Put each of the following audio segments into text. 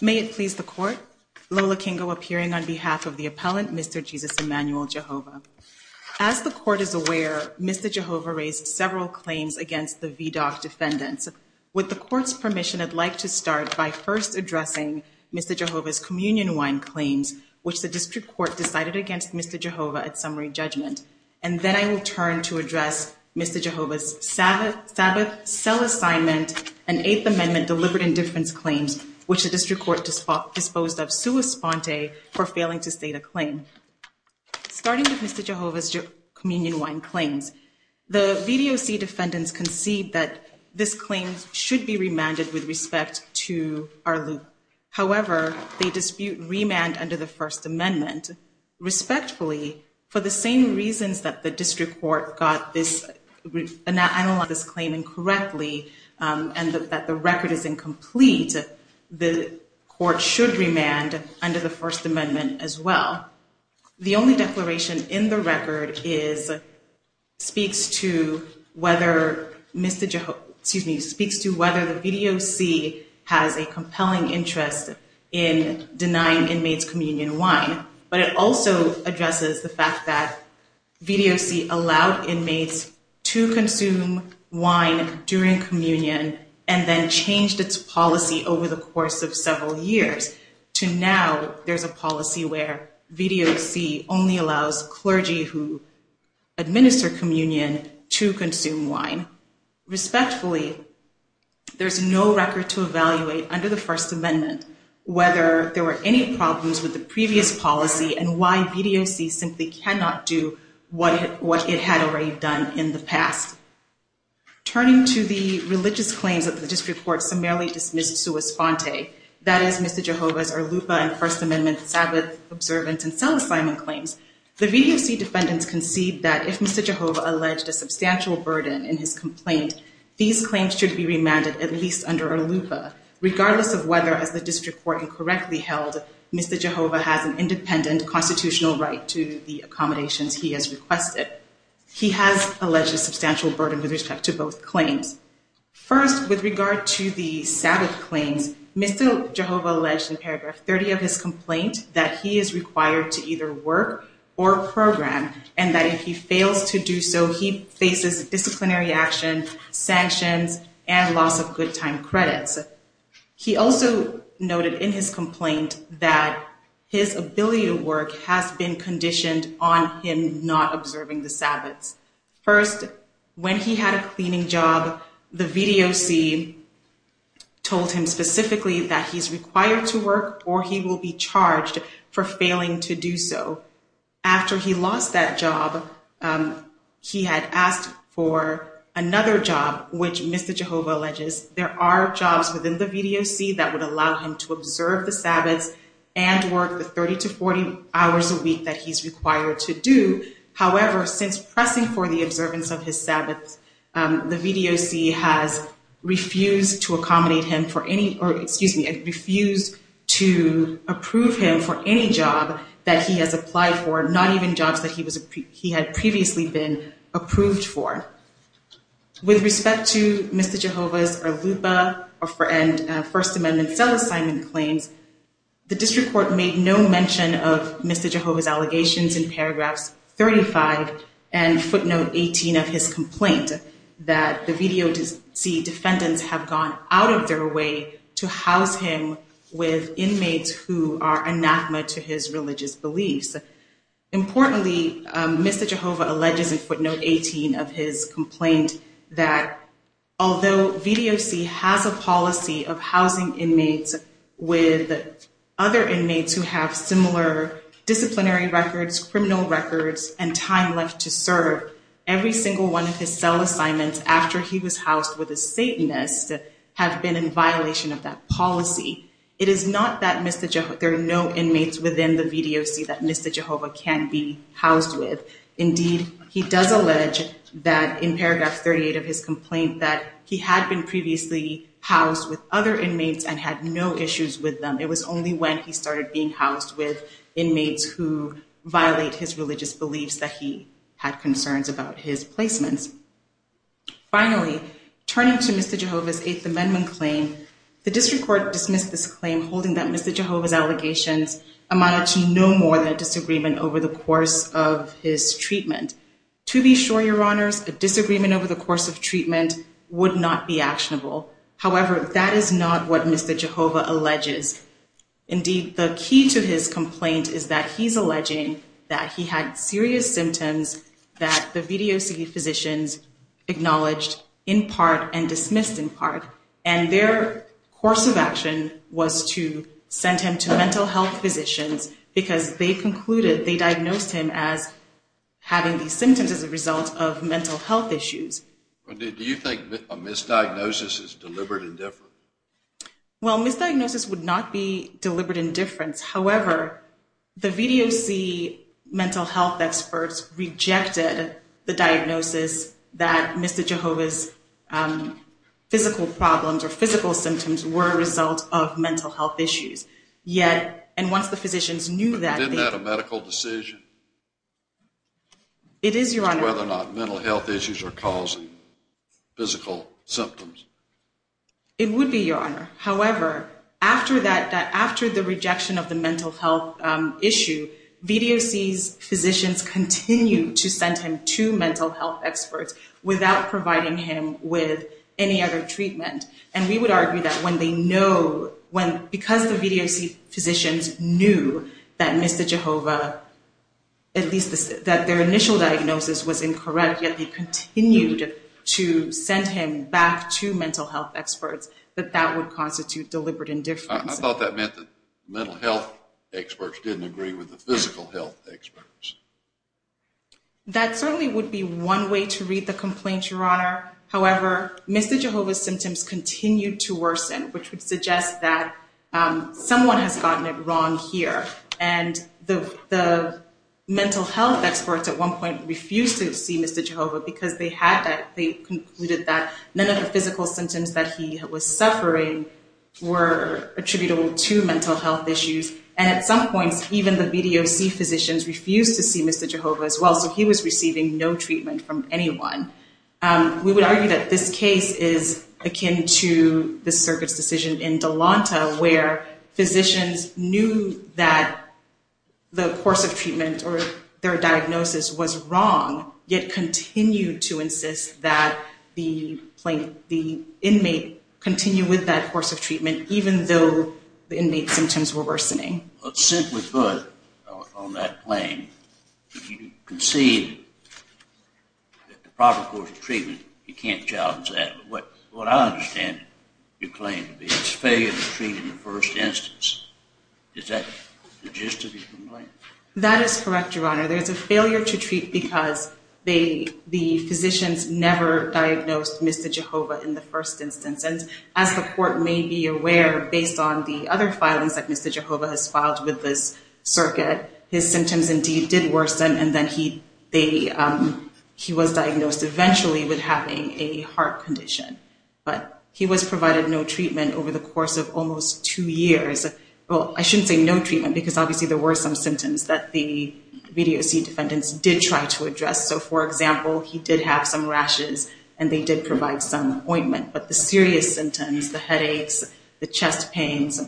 May it please the Court, Lola Kingo appearing on behalf of the appellant, Mr. Jesus Emmanuel Jehovah. As the Court is aware, Mr. Jehovah raised several claims against the VDOC defendants. With the Court's permission, I'd like to start by first addressing Mr. Jehovah's communion wine claims, which the District Court decided against Mr. Jehovah at summary judgment. And then I will turn to address Mr. Jehovah's Sabbath cell assignment and Eighth Amendment deliberate indifference claims, which the District Court disposed of sua sponte for failing to state a claim. Starting with Mr. Jehovah's communion wine claims, the VDOC defendants concede that this claim should be remanded with respect to our loop. However, they dispute remand under the First Amendment, respectfully, for the same reasons that the District Court got this claim incorrectly and that the record is incomplete, the Court should remand under the First Amendment as well. The only declaration in the record speaks to whether Mr. Jehovah, excuse me, speaks to whether the VDOC has a compelling interest in denying inmates communion wine, but it also addresses the fact that VDOC allowed inmates to consume wine during communion and then changed its policy over the course of several years to now there's a policy where VDOC only allows clergy who administer communion to consume wine. Respectfully, there's no record to evaluate under the First Amendment whether there were any problems with the previous policy and why VDOC simply cannot do what it had already done in the past. Turning to the religious claims that the District Court summarily dismissed sua sponte, that is, Mr. Jehovah's Arlupa and First Amendment Sabbath observance and cell assignment claims, the VDOC defendants concede that if Mr. Jehovah alleged a substantial burden in his complaint, these claims should be remanded at least under Arlupa, regardless of whether, as the District Court incorrectly held, Mr. Jehovah has an independent constitutional right to the accommodations he has requested. He has alleged a substantial burden with respect to both claims. First, with regard to the Sabbath claims, Mr. Jehovah alleged in paragraph 30 of his complaint that he does not have a job or program and that if he fails to do so, he faces disciplinary action, sanctions, and loss of good time credits. He also noted in his complaint that his ability to work has been conditioned on him not observing the Sabbaths. First, when he had a cleaning job, the VDOC told him specifically that he's required to work or he will be charged for failing to do so. After he lost that job, he had asked for another job, which Mr. Jehovah alleges there are jobs within the VDOC that would allow him to observe the Sabbaths and work the 30 to 40 hours a week that he's required to do. However, since pressing for the observance of his Sabbaths, the VDOC has refused to accommodate him for any or excuse me, refused to approve him for any job that he has applied for, not even jobs that he had previously been approved for. With respect to Mr. Jehovah's Lupa or First Amendment self-assignment claims, the district court made no mention of Mr. Jehovah's allegations in paragraphs 35 and footnote 18 of his complaint that the VDOC defendants have gone out of their way to house him with inmates who are anathema to his life. Importantly, Mr. Jehovah alleges in footnote 18 of his complaint that although VDOC has a policy of housing inmates with other inmates who have similar disciplinary records, criminal records and time left to serve, every single one of his cell assignments after he was housed with a Satanist have been in violation of that policy. It is not that there are no inmates within the VDOC that Mr. Jehovah can be housed with. Indeed, he does allege that in paragraph 38 of his complaint that he had been previously housed with other inmates and had no issues with them. It was only when he started being housed with inmates who violate his religious beliefs that he had concerns about his placements. Finally, turning to Mr. Jehovah's Eighth Amendment claim, the district court dismissed this claim, holding that Mr. Jehovah's allegations amounted to no more than a disagreement over the course of his treatment. To be sure, your honors, a disagreement over the course of treatment would not be actionable. However, that is not what Mr. Jehovah alleges. Indeed, the key to his complaint is that he's alleging that he had serious symptoms that the VDOC physicians acknowledged in part and dismissed in part. And their course of action was to send him to mental health physicians because they concluded they diagnosed him as having these symptoms as a result of mental health issues. Do you think a misdiagnosis is deliberate indifference? Well, misdiagnosis would not be deliberate indifference. However, the VDOC mental health experts rejected the diagnosis that Mr. Jehovah's physical problems or physical symptoms were a result of mental health issues. Yet, and once the physicians knew that. But isn't that a medical decision? It is, your honor. Whether or not mental health issues are causing physical symptoms. It would be, your honor. However, after that, after the rejection of the mental health issue, VDOC's physicians continue to send him to mental health experts without providing him with any other treatment. And we would argue that when they know, because the VDOC physicians knew that Mr. Jehovah, at least that their initial diagnosis was incorrect, yet they deliberate indifference. I thought that meant that mental health experts didn't agree with the physical health experts. That certainly would be one way to read the complaint, your honor. However, Mr. Jehovah's symptoms continue to worsen, which would suggest that someone has gotten it wrong here. And the mental health experts at one point refused to see Mr. Jehovah because they had that, they concluded that none of the physical symptoms that he was suffering were attributable to mental health issues. And at some points, even the VDOC physicians refused to see Mr. Jehovah as well. So he was receiving no treatment from anyone. We would argue that this case is akin to the circuit's decision in Delonta, where physicians knew that the course of treatment or their diagnosis was wrong, yet continued to insist that the inmate continue with that course of treatment, even though the inmate's symptoms were worsening. Simply put, on that claim, you concede that the proper course of treatment, you can't challenge that. But what I understand your claim to be is failure to treat in the first instance. Is that the gist of your complaint? That is correct, your honor. There's a failure to treat because the physicians never diagnosed Mr. Jehovah in the first instance. And as the court may be aware, based on the other filings that Mr. Jehovah has filed with this circuit, his symptoms indeed did worsen. And then he was diagnosed eventually with having a heart condition. But he was provided no treatment over the course of almost two years. Well, I shouldn't say no treatment, because obviously there were some symptoms that the VDOC defendants did try to address. So, for example, he did have some rashes and they did provide some ointment. But the serious symptoms, the headaches, the chest pains,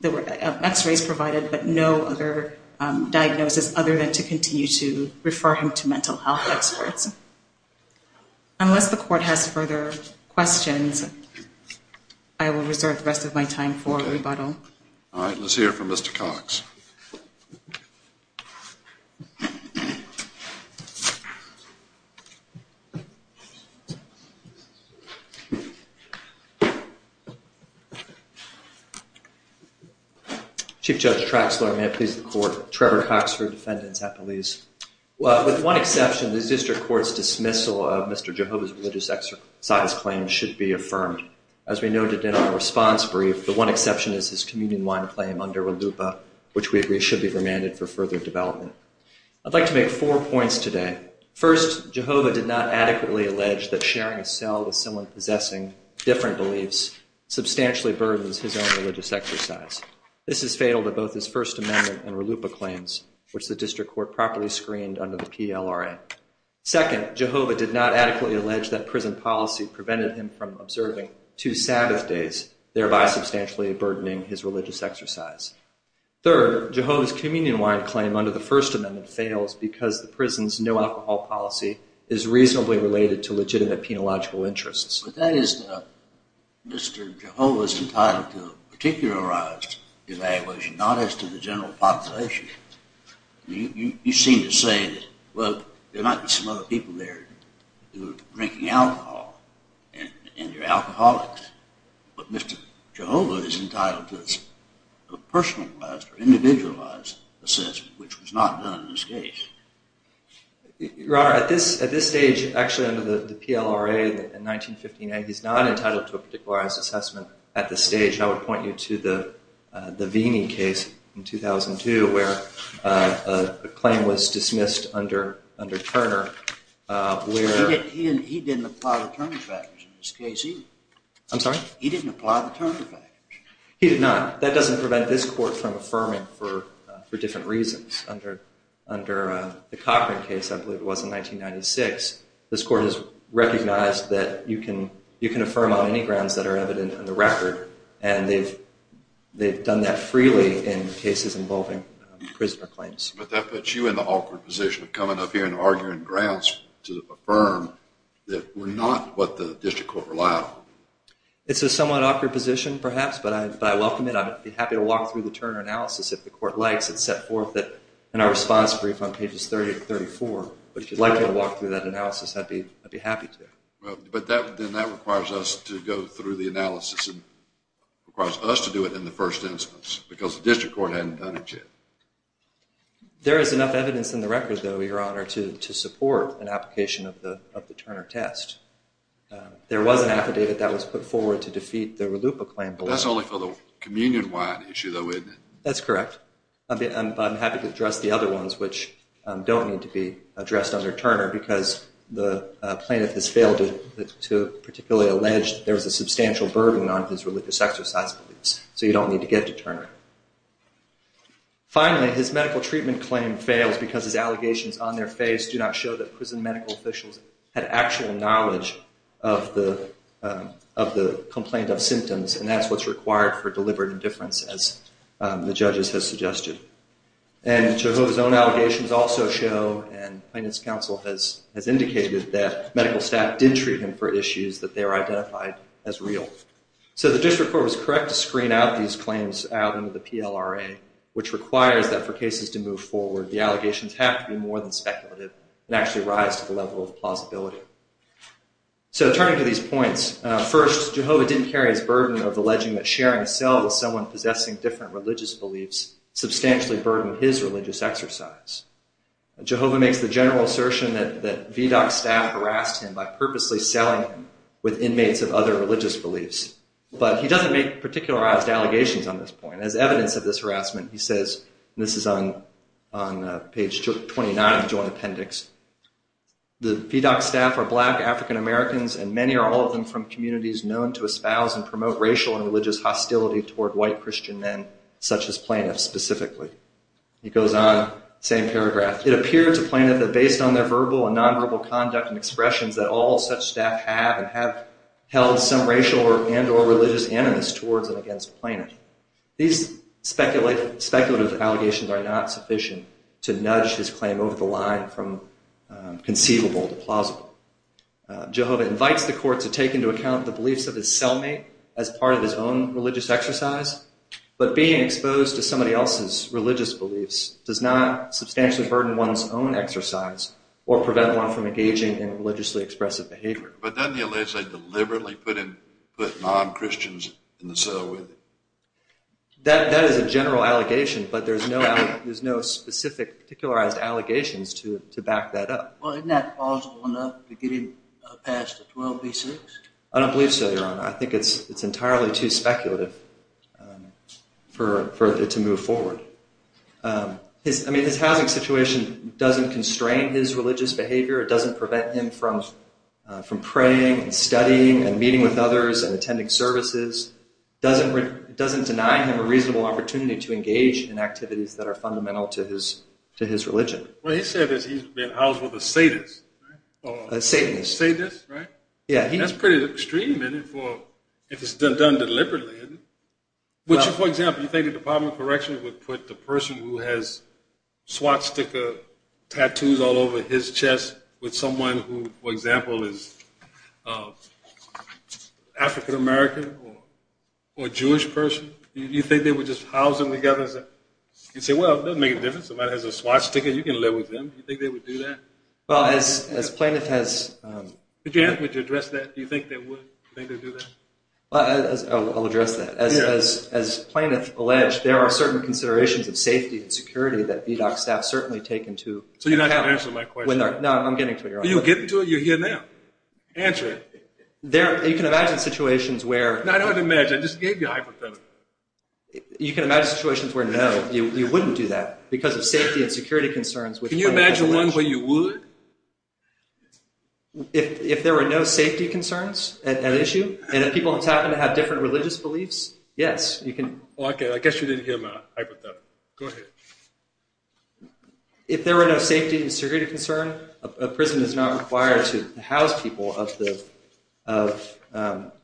there were x-rays provided, but no other diagnosis other than to continue to refer him to mental health experts. Unless the court has further questions, I will reserve the rest of my time for rebuttal. All right, let's hear from Mr. Cox. Chief Judge Traxler, may it please the court. Trevor Cox for Defendant's Appellees. With one exception, the district court's dismissal of Mr. Jehovah's religious exercise claim should be affirmed. As we noted in our response brief, the one exception is his communion wine claim under RLUIPA, which we agree should be remanded for further development. I'd like to make four points today. First, Jehovah did not adequately allege that sharing a cell with someone possessing different beliefs substantially burdens his own religious exercise. This is fatal to both his First Amendment and RLUIPA claims, which the district court properly screened under the PLRA. Second, Jehovah did not adequately allege that prison policy prevented him from serving two Sabbath days, thereby substantially burdening his religious exercise. Third, Jehovah's communion wine claim under the First Amendment fails because the prison's no alcohol policy is reasonably related to legitimate penological interests. But that is Mr. Jehovah's entitlement to a particularized evaluation, not as to the general population. You seem to say that, well, there might be some other people there who are drinking alcohol, and they're alcoholics, but Mr. Jehovah is entitled to a personalized or individualized assessment, which was not done in this case. Your Honor, at this stage, actually under the PLRA in 1959, he's not entitled to a particularized assessment at this stage. I would point you to the Veeney case in 2002, where a claim was dismissed under Turner, where he didn't apply the Turner factors in this case either. I'm sorry? He didn't apply the Turner factors. He did not. That doesn't prevent this court from affirming for different reasons. Under the Cochran case, I believe it was in 1996, this court has recognized that you can affirm on any grounds that are evident in the record, and they've done that freely in cases involving prisoner claims. But that puts you in the awkward position of coming up here and arguing grounds to affirm that we're not what the district court relied on. It's a somewhat awkward position, perhaps, but I welcome it. I'd be happy to walk through the Turner analysis if the court likes. It's set forth in our response brief on pages 30 and 34. But if you'd like me to walk through that analysis, I'd be happy to. But then that requires us to go through the analysis and requires us to do it in the first instance, because the district court hadn't done it yet. There is enough evidence in the record, though, Your Honor, to support an application of the Turner test. There was an affidavit that was put forward to defeat the RLUIPA claim. But that's only for the communion-wide issue, though, isn't it? That's correct. But I'm happy to address the other ones, which don't need to be addressed under Turner, because the plaintiff has failed to particularly allege there was a substantial burden on his RLUIPA sex or sex abuse, so you don't need to get to Turner. Finally, his medical treatment claim fails because his allegations on their face do not show that prison medical officials had actual knowledge of the complaint of symptoms, and that's what's required for deliberate indifference, as the judges have suggested. And Jehovah's Own allegations also show, and Plaintiff's Counsel has indicated, that medical staff did treat him for issues that they are identified as real. So the district court was correct to screen out these claims out in the first instance, under the PLRA, which requires that for cases to move forward, the allegations have to be more than speculative and actually rise to the level of plausibility. So turning to these points, first, Jehovah didn't carry his burden of alleging that sharing a cell with someone possessing different religious beliefs substantially burdened his religious exercise. Jehovah makes the general assertion that VDOC staff harassed him by purposely selling him with inmates of other religious beliefs. But he doesn't make particularized allegations on this point. As evidence of this harassment, he says, and this is on page 29 of the Joint Appendix, the VDOC staff are black African-Americans, and many or all of them from communities known to espouse and promote racial and religious hostility toward white Christian men, such as plaintiffs, specifically. He goes on, same paragraph, it appeared to plaintiff that based on their verbal and nonverbal conduct and expressions that all such staff have and have held some racial and or religious animus towards and against plaintiff. These speculative allegations are not sufficient to nudge his claim over the line from conceivable to plausible. Jehovah invites the court to take into account the beliefs of his cellmate as part of his own religious exercise. But being exposed to somebody else's religious beliefs does not substantially burden one's own exercise or prevent one from engaging in religiously expressive behavior. But doesn't he allege they deliberately put non-Christians in the cell with him? That is a general allegation, but there's no specific particularized allegations to back that up. Well, isn't that plausible enough to get him past the 12B6? I don't believe so, Your Honor. I think it's entirely too speculative for it to move forward. I mean, his housing situation doesn't constrain his religious behavior. It doesn't prevent him from praying and studying and meeting with others and attending services. It doesn't deny him a reasonable opportunity to engage in activities that are fundamental to his religion. What he said is he's been housed with a sadist, right? A satanist. A sadist, right? Yeah. That's pretty extreme, isn't it, if it's done deliberately. Would you, for example, you think the Department of Correction would put the person who has swastika tattoos all over his chest with someone who, for example, is African-American or Jewish person? Do you think they would just house them together and say, well, it doesn't make a difference. Somebody has a swastika. You can live with them. Do you think they would do that? Well, as plaintiff has... Could you address that? Do you think they would do that? I'll address that. As plaintiff alleged, there are certain considerations of safety and security that VDOC staff certainly take into account. So you're not going to answer my question? No, I'm getting to it. You're getting to it? You're here now. Answer it. You can imagine situations where... No, I don't have to imagine. I just gave you a hypothetical. You can imagine situations where, no, you wouldn't do that because of safety and security concerns. Can you imagine one where you would? If there were no safety concerns at issue, and if people happen to have different religious beliefs, yes, you can. Well, I guess you didn't hear my hypothetical. Go ahead. If there were no safety and security concern, a prison is not required to house people of the...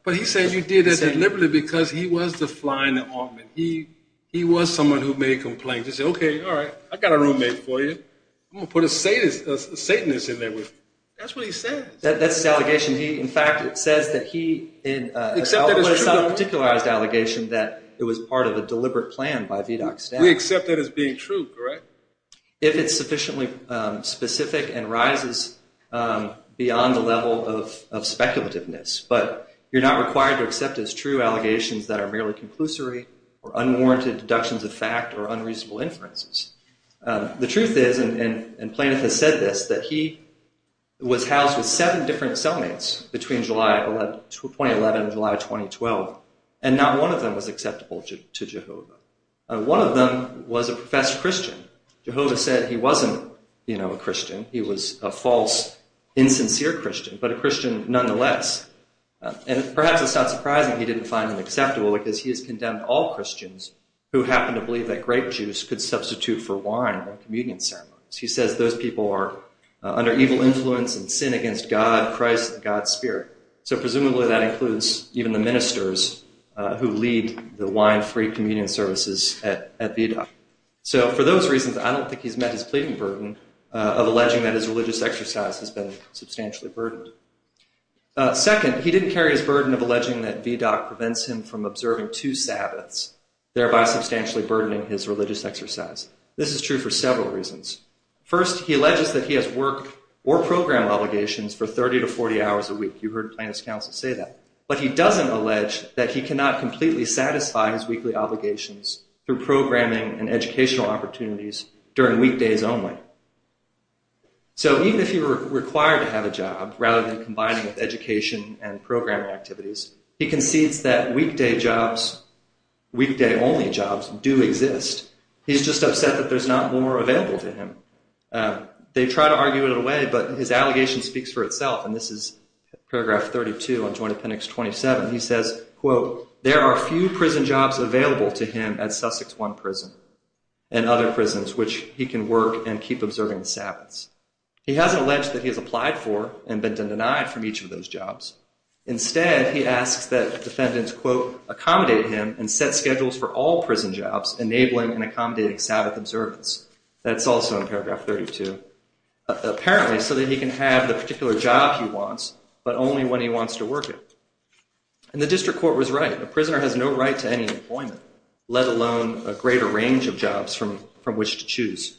But he said you did that deliberately because he was the fly in the ointment. He was someone who made complaints. He said, okay, all right, I got a roommate for you. I'm going to put a satanist in there with me. That's what he said. That's his allegation. In fact, it says that he, in a self-particularized allegation, that it was part of a deliberate plan by VDOC staff. We accept that as being true, correct? If it's sufficiently specific and rises beyond the level of speculativeness. But you're not required to accept as true allegations that are merely conclusory or unwarranted deductions of fact or unreasonable inferences. The truth is, and Plaintiff has said this, that he was housed with seven different cell mates between July 2011 and July 2012, and not one of them was acceptable to Jehovah. One of them was a professed Christian. Jehovah said he wasn't a Christian. He was a false, insincere Christian, but a Christian nonetheless. And perhaps it's not surprising he didn't find him acceptable because he has condemned all Christians who happen to believe that grape juice could substitute for wine at communion ceremonies. He says those people are under evil influence and sin against God, Christ, and God's spirit. So presumably that includes even the ministers who lead the wine-free communion services at VDOC. So for those reasons, I don't think he's met his pleading burden of alleging that his religious exercise has been substantially burdened. Second, he didn't carry his burden of alleging that VDOC prevents him from observing two sabbaths, thereby substantially burdening his religious exercise. This is true for several reasons. First, he alleges that he has work or program obligations for 30 to 40 hours a week. You heard Plaintiff's counsel say that. But he doesn't allege that he cannot completely satisfy his weekly obligations through programming and educational opportunities during weekdays only. So even if he were required to have a job, rather than combining with education and programming activities, he concedes that weekday jobs, weekday-only jobs do exist. He's just upset that there's not more available to him. They try to argue it away, but his allegation speaks for itself. And this is paragraph 32 on Joint Appendix 27. He says, quote, there are few prison jobs available to him at Sussex One Prison and other prisons which he can work and keep observing the sabbaths. He hasn't alleged that he has applied for and been denied from each of those jobs. Instead, he asks that defendants, quote, accommodate him and set schedules for all prison jobs, enabling and accommodating sabbath observance. That's also in paragraph 32, apparently so that he can have the particular job he wants, but only when he wants to work it. And the district court was right. A prisoner has no right to any employment, let alone a greater range of jobs from which to choose.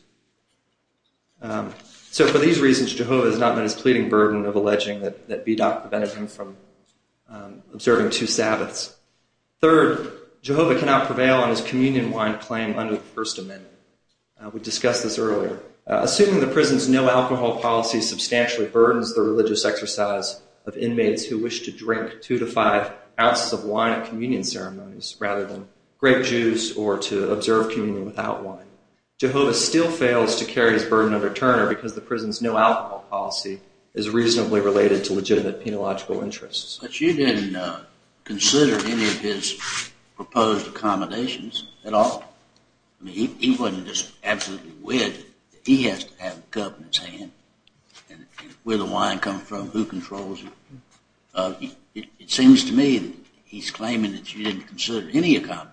So for these reasons, Jehovah has not met his pleading burden of alleging that B. S. was a drunkard, which would have prevented him from observing two sabbaths. Third, Jehovah cannot prevail on his communion wine claim under the First Amendment. We discussed this earlier. Assuming the prison's no alcohol policy substantially burdens the religious exercise of inmates who wish to drink two to five ounces of wine at communion ceremonies, rather than grape juice or to observe communion without wine, Jehovah still fails to carry his burden under Turner because the prison's no alcohol policy is reasonably related to legitimate penological interests. But you didn't consider any of his proposed accommodations at all. He wasn't just absolutely wed. He has to have a cup in his hand, and where the wine comes from, who controls it. It seems to me that he's claiming that you didn't consider any accommodation.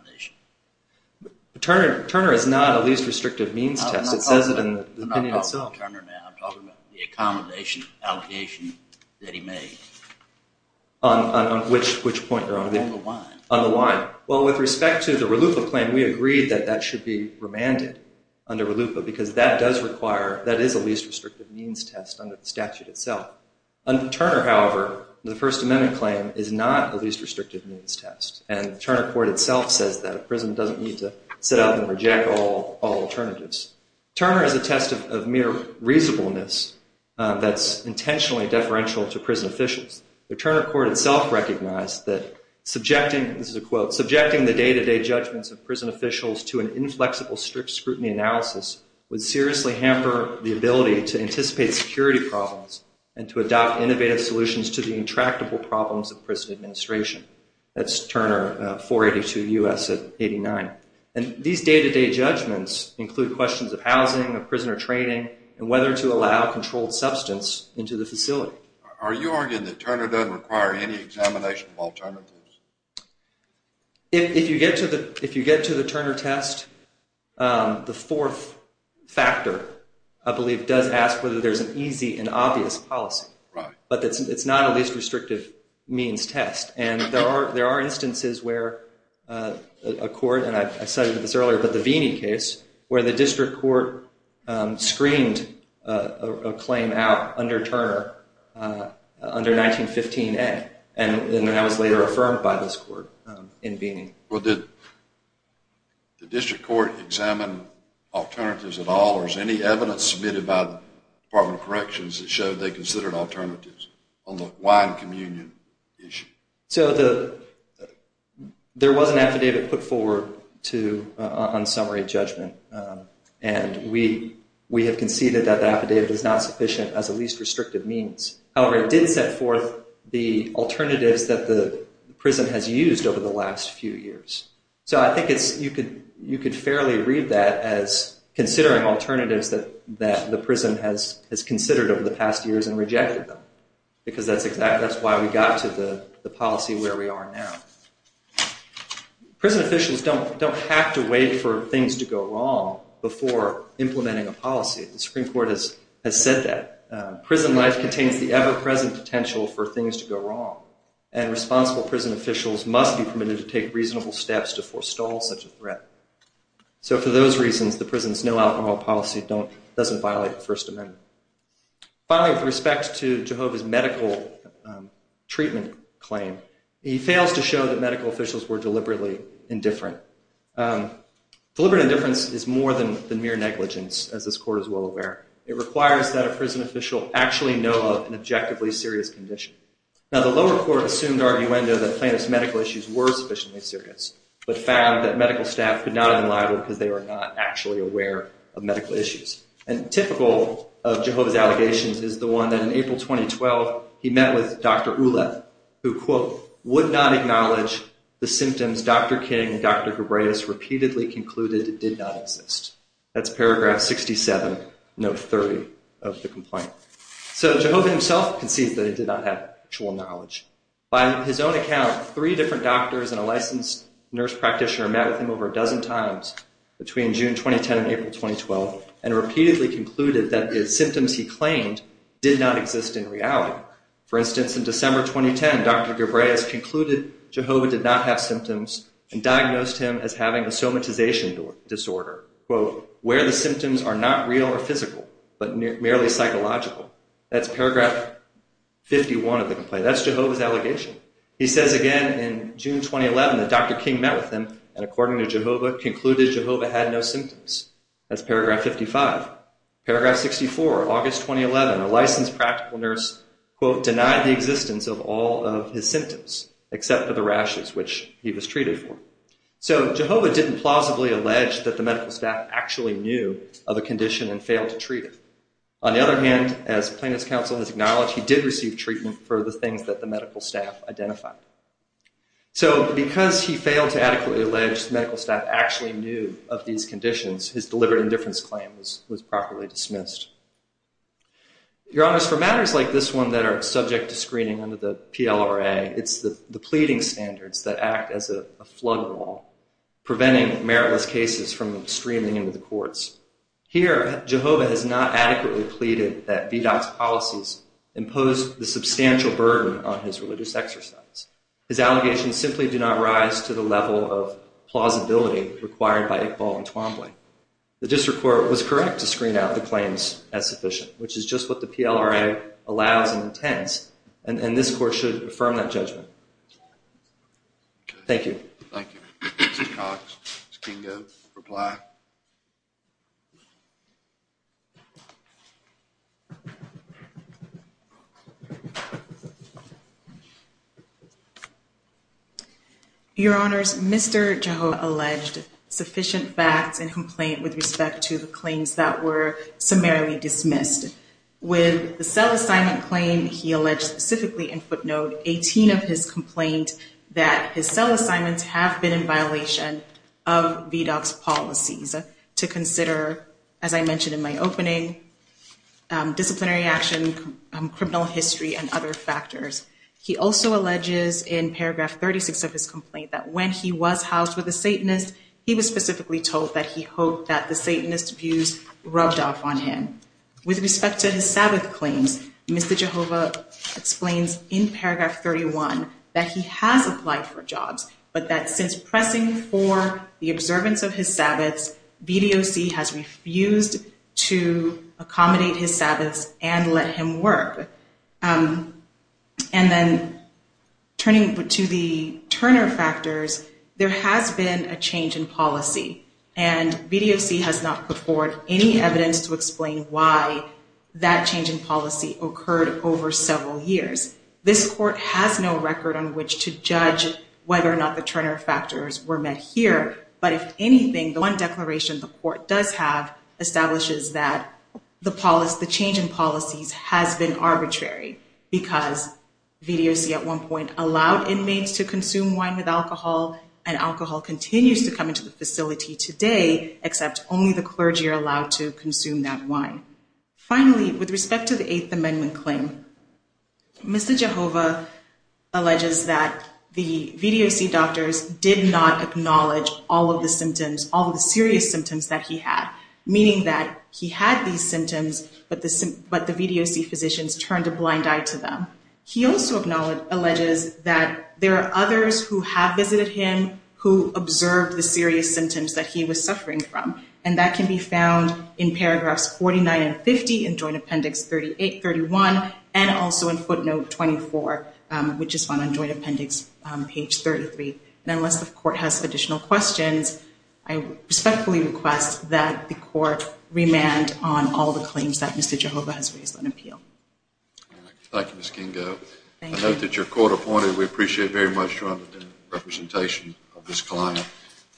Turner is not a least restrictive means test. It says it in the opinion itself. I'm not talking about Turner now. I'm talking about the accommodation allocation that he made. On which point you're on? On the wine. On the wine. Well, with respect to the Ralupa claim, we agreed that that should be remanded under Ralupa because that does require, that is a least restrictive means test under the statute itself. Under Turner, however, the First Amendment claim is not a least restrictive means test, and Turner court itself says that a prison doesn't need to sit up and reject all alternatives. Turner is a test of mere reasonableness that's intentionally deferential to prison officials. The Turner court itself recognized that subjecting, this is a quote, subjecting the day-to-day judgments of prison officials to an inflexible strict scrutiny analysis would seriously hamper the ability to anticipate security problems and to adopt innovative solutions to the intractable problems of prison administration. That's Turner, 482 U.S. at 89. And these day-to-day judgments include questions of housing, of prisoner training, and whether to allow controlled substance into the facility. Are you arguing that Turner doesn't require any examination of alternatives? If you get to the Turner test, the fourth factor, I believe, does ask whether there's an easy and obvious policy, but it's not a least restrictive means test. And there are instances where a court, and I cited this earlier, but the Veeney case, where the district court screened a claim out under Turner under 1915a, and that was later affirmed by this court in Veeney. Well, did the district court examine alternatives at all, or is any evidence submitted by the Department of Corrections that showed they considered alternatives on the wine communion issue? So there was an affidavit put forward on summary judgment, and we have conceded that the affidavit is not sufficient as a least restrictive means. However, it did set forth the alternatives that the prison has used over the last few years. So I think you could fairly read that as considering alternatives that the prison has considered over the past years and rejected them, because that's why we got to the policy where we are now. Prison officials don't have to wait for things to go wrong before implementing a policy. The Supreme Court has said that. Prison life contains the ever-present potential for things to go wrong, and responsible prison officials must be permitted to take reasonable steps to forestall such a threat. So for those reasons, the prison's no-out-law policy doesn't violate the First Amendment. Finally, with respect to Jehovah's medical treatment claim, he fails to show that medical officials were deliberately indifferent. Deliberate indifference is more than mere negligence, as this Court is well aware. It requires that a prison official actually know of an objectively serious condition. Now, the lower court assumed arguendo that plaintiff's medical issues were sufficiently serious, but found that medical staff could not have been liable because they were not actually aware of medical issues. And typical of Jehovah's allegations is the one that in April 2012, he met with Dr. Uleth, who, quote, would not acknowledge the symptoms Dr. King and Dr. Hebraeus repeatedly concluded did not exist. That's paragraph 67, note 30 of the complaint. So Jehovah himself concedes that he did not have actual knowledge. By his own account, three different doctors and a licensed nurse practitioner met with over a dozen times between June 2010 and April 2012, and repeatedly concluded that the symptoms he claimed did not exist in reality. For instance, in December 2010, Dr. Hebraeus concluded Jehovah did not have symptoms and diagnosed him as having a somatization disorder, quote, where the symptoms are not real or physical, but merely psychological. That's paragraph 51 of the complaint. That's Jehovah's allegation. He says again in June 2011 that Dr. King met with him, and according to Jehovah, concluded Jehovah had no symptoms. That's paragraph 55. Paragraph 64, August 2011, a licensed practical nurse, quote, denied the existence of all of his symptoms except for the rashes, which he was treated for. So Jehovah didn't plausibly allege that the medical staff actually knew of a condition and failed to treat him. On the other hand, as plaintiff's counsel has acknowledged, he did receive treatment for the things that the medical staff identified. So because he failed to adequately allege the medical staff actually knew of these conditions, his deliberate indifference claim was properly dismissed. Your honors, for matters like this one that are subject to screening under the PLRA, it's the pleading standards that act as a flood wall, preventing meritless cases from streaming into the courts. Here, Jehovah has not adequately pleaded that VDOT's policies impose the substantial burden on his religious exercise. His allegations simply do not rise to the level of plausibility required by Iqbal and Twombly. The district court was correct to screen out the claims as sufficient, which is just what the PLRA allows and intends, and this court should affirm that judgment. Thank you. Thank you. Mr. Cox, Mr. Kingo, reply. Your honors, Mr. Jehovah alleged sufficient facts and complaint with respect to the claims that were summarily dismissed. With the cell assignment claim he alleged specifically in footnote, 18 of his complaint that his cell assignments have been in violation of VDOT's policies to consider, as I mentioned in my opening, disciplinary action, criminal history, and other factors. He also alleges in paragraph 36 of his complaint that when he was housed with a Satanist, he was specifically told that he hoped that the Satanist views rubbed off on him. With respect to his Sabbath claims, Mr. Jehovah explains in paragraph 31 that he has applied for jobs, but that since pressing for the observance of his Sabbaths, VDOC has refused to accommodate his Sabbaths and let him work. And then turning to the Turner factors, there has been a change in policy, and VDOC has not put forward any evidence to explain why that change in policy occurred over several years. This court has no record on which to judge whether or not the Turner factors were met here, but if anything, the one declaration the court does have establishes that the change in policies has been arbitrary because VDOC at one point allowed inmates to consume wine with alcohol, and alcohol continues to come into the facility today, except only the clergy are allowed to consume that wine. Finally, with respect to the Eighth Amendment claim, Mr. Jehovah alleges that the VDOC doctors did not acknowledge all of the symptoms, all of the serious symptoms that he had, meaning that he had these symptoms, but the VDOC physicians turned a blind eye to them. He also alleges that there are others who have visited him who observed the serious symptoms that he was suffering from, and that can be found in paragraphs 49 and 50 in Joint Appendix 38, 31, and also in footnote 24, which is found on Joint Appendix page 33. And unless the court has additional questions, I respectfully request that the court remand on all the claims that Mr. Jehovah has raised on appeal. Thank you, Ms. Kingo. I note that you're court appointed. We appreciate very much your understanding and representation of this client.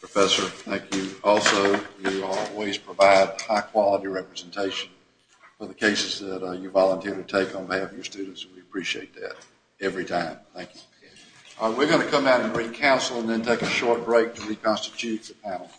Professor, thank you. Also, you always provide high-quality representation for the cases that you volunteer to take on behalf of your students, and we appreciate that every time. Thank you. We're going to come out and bring counsel and then take a short break to reconstitute the panel. Thank you.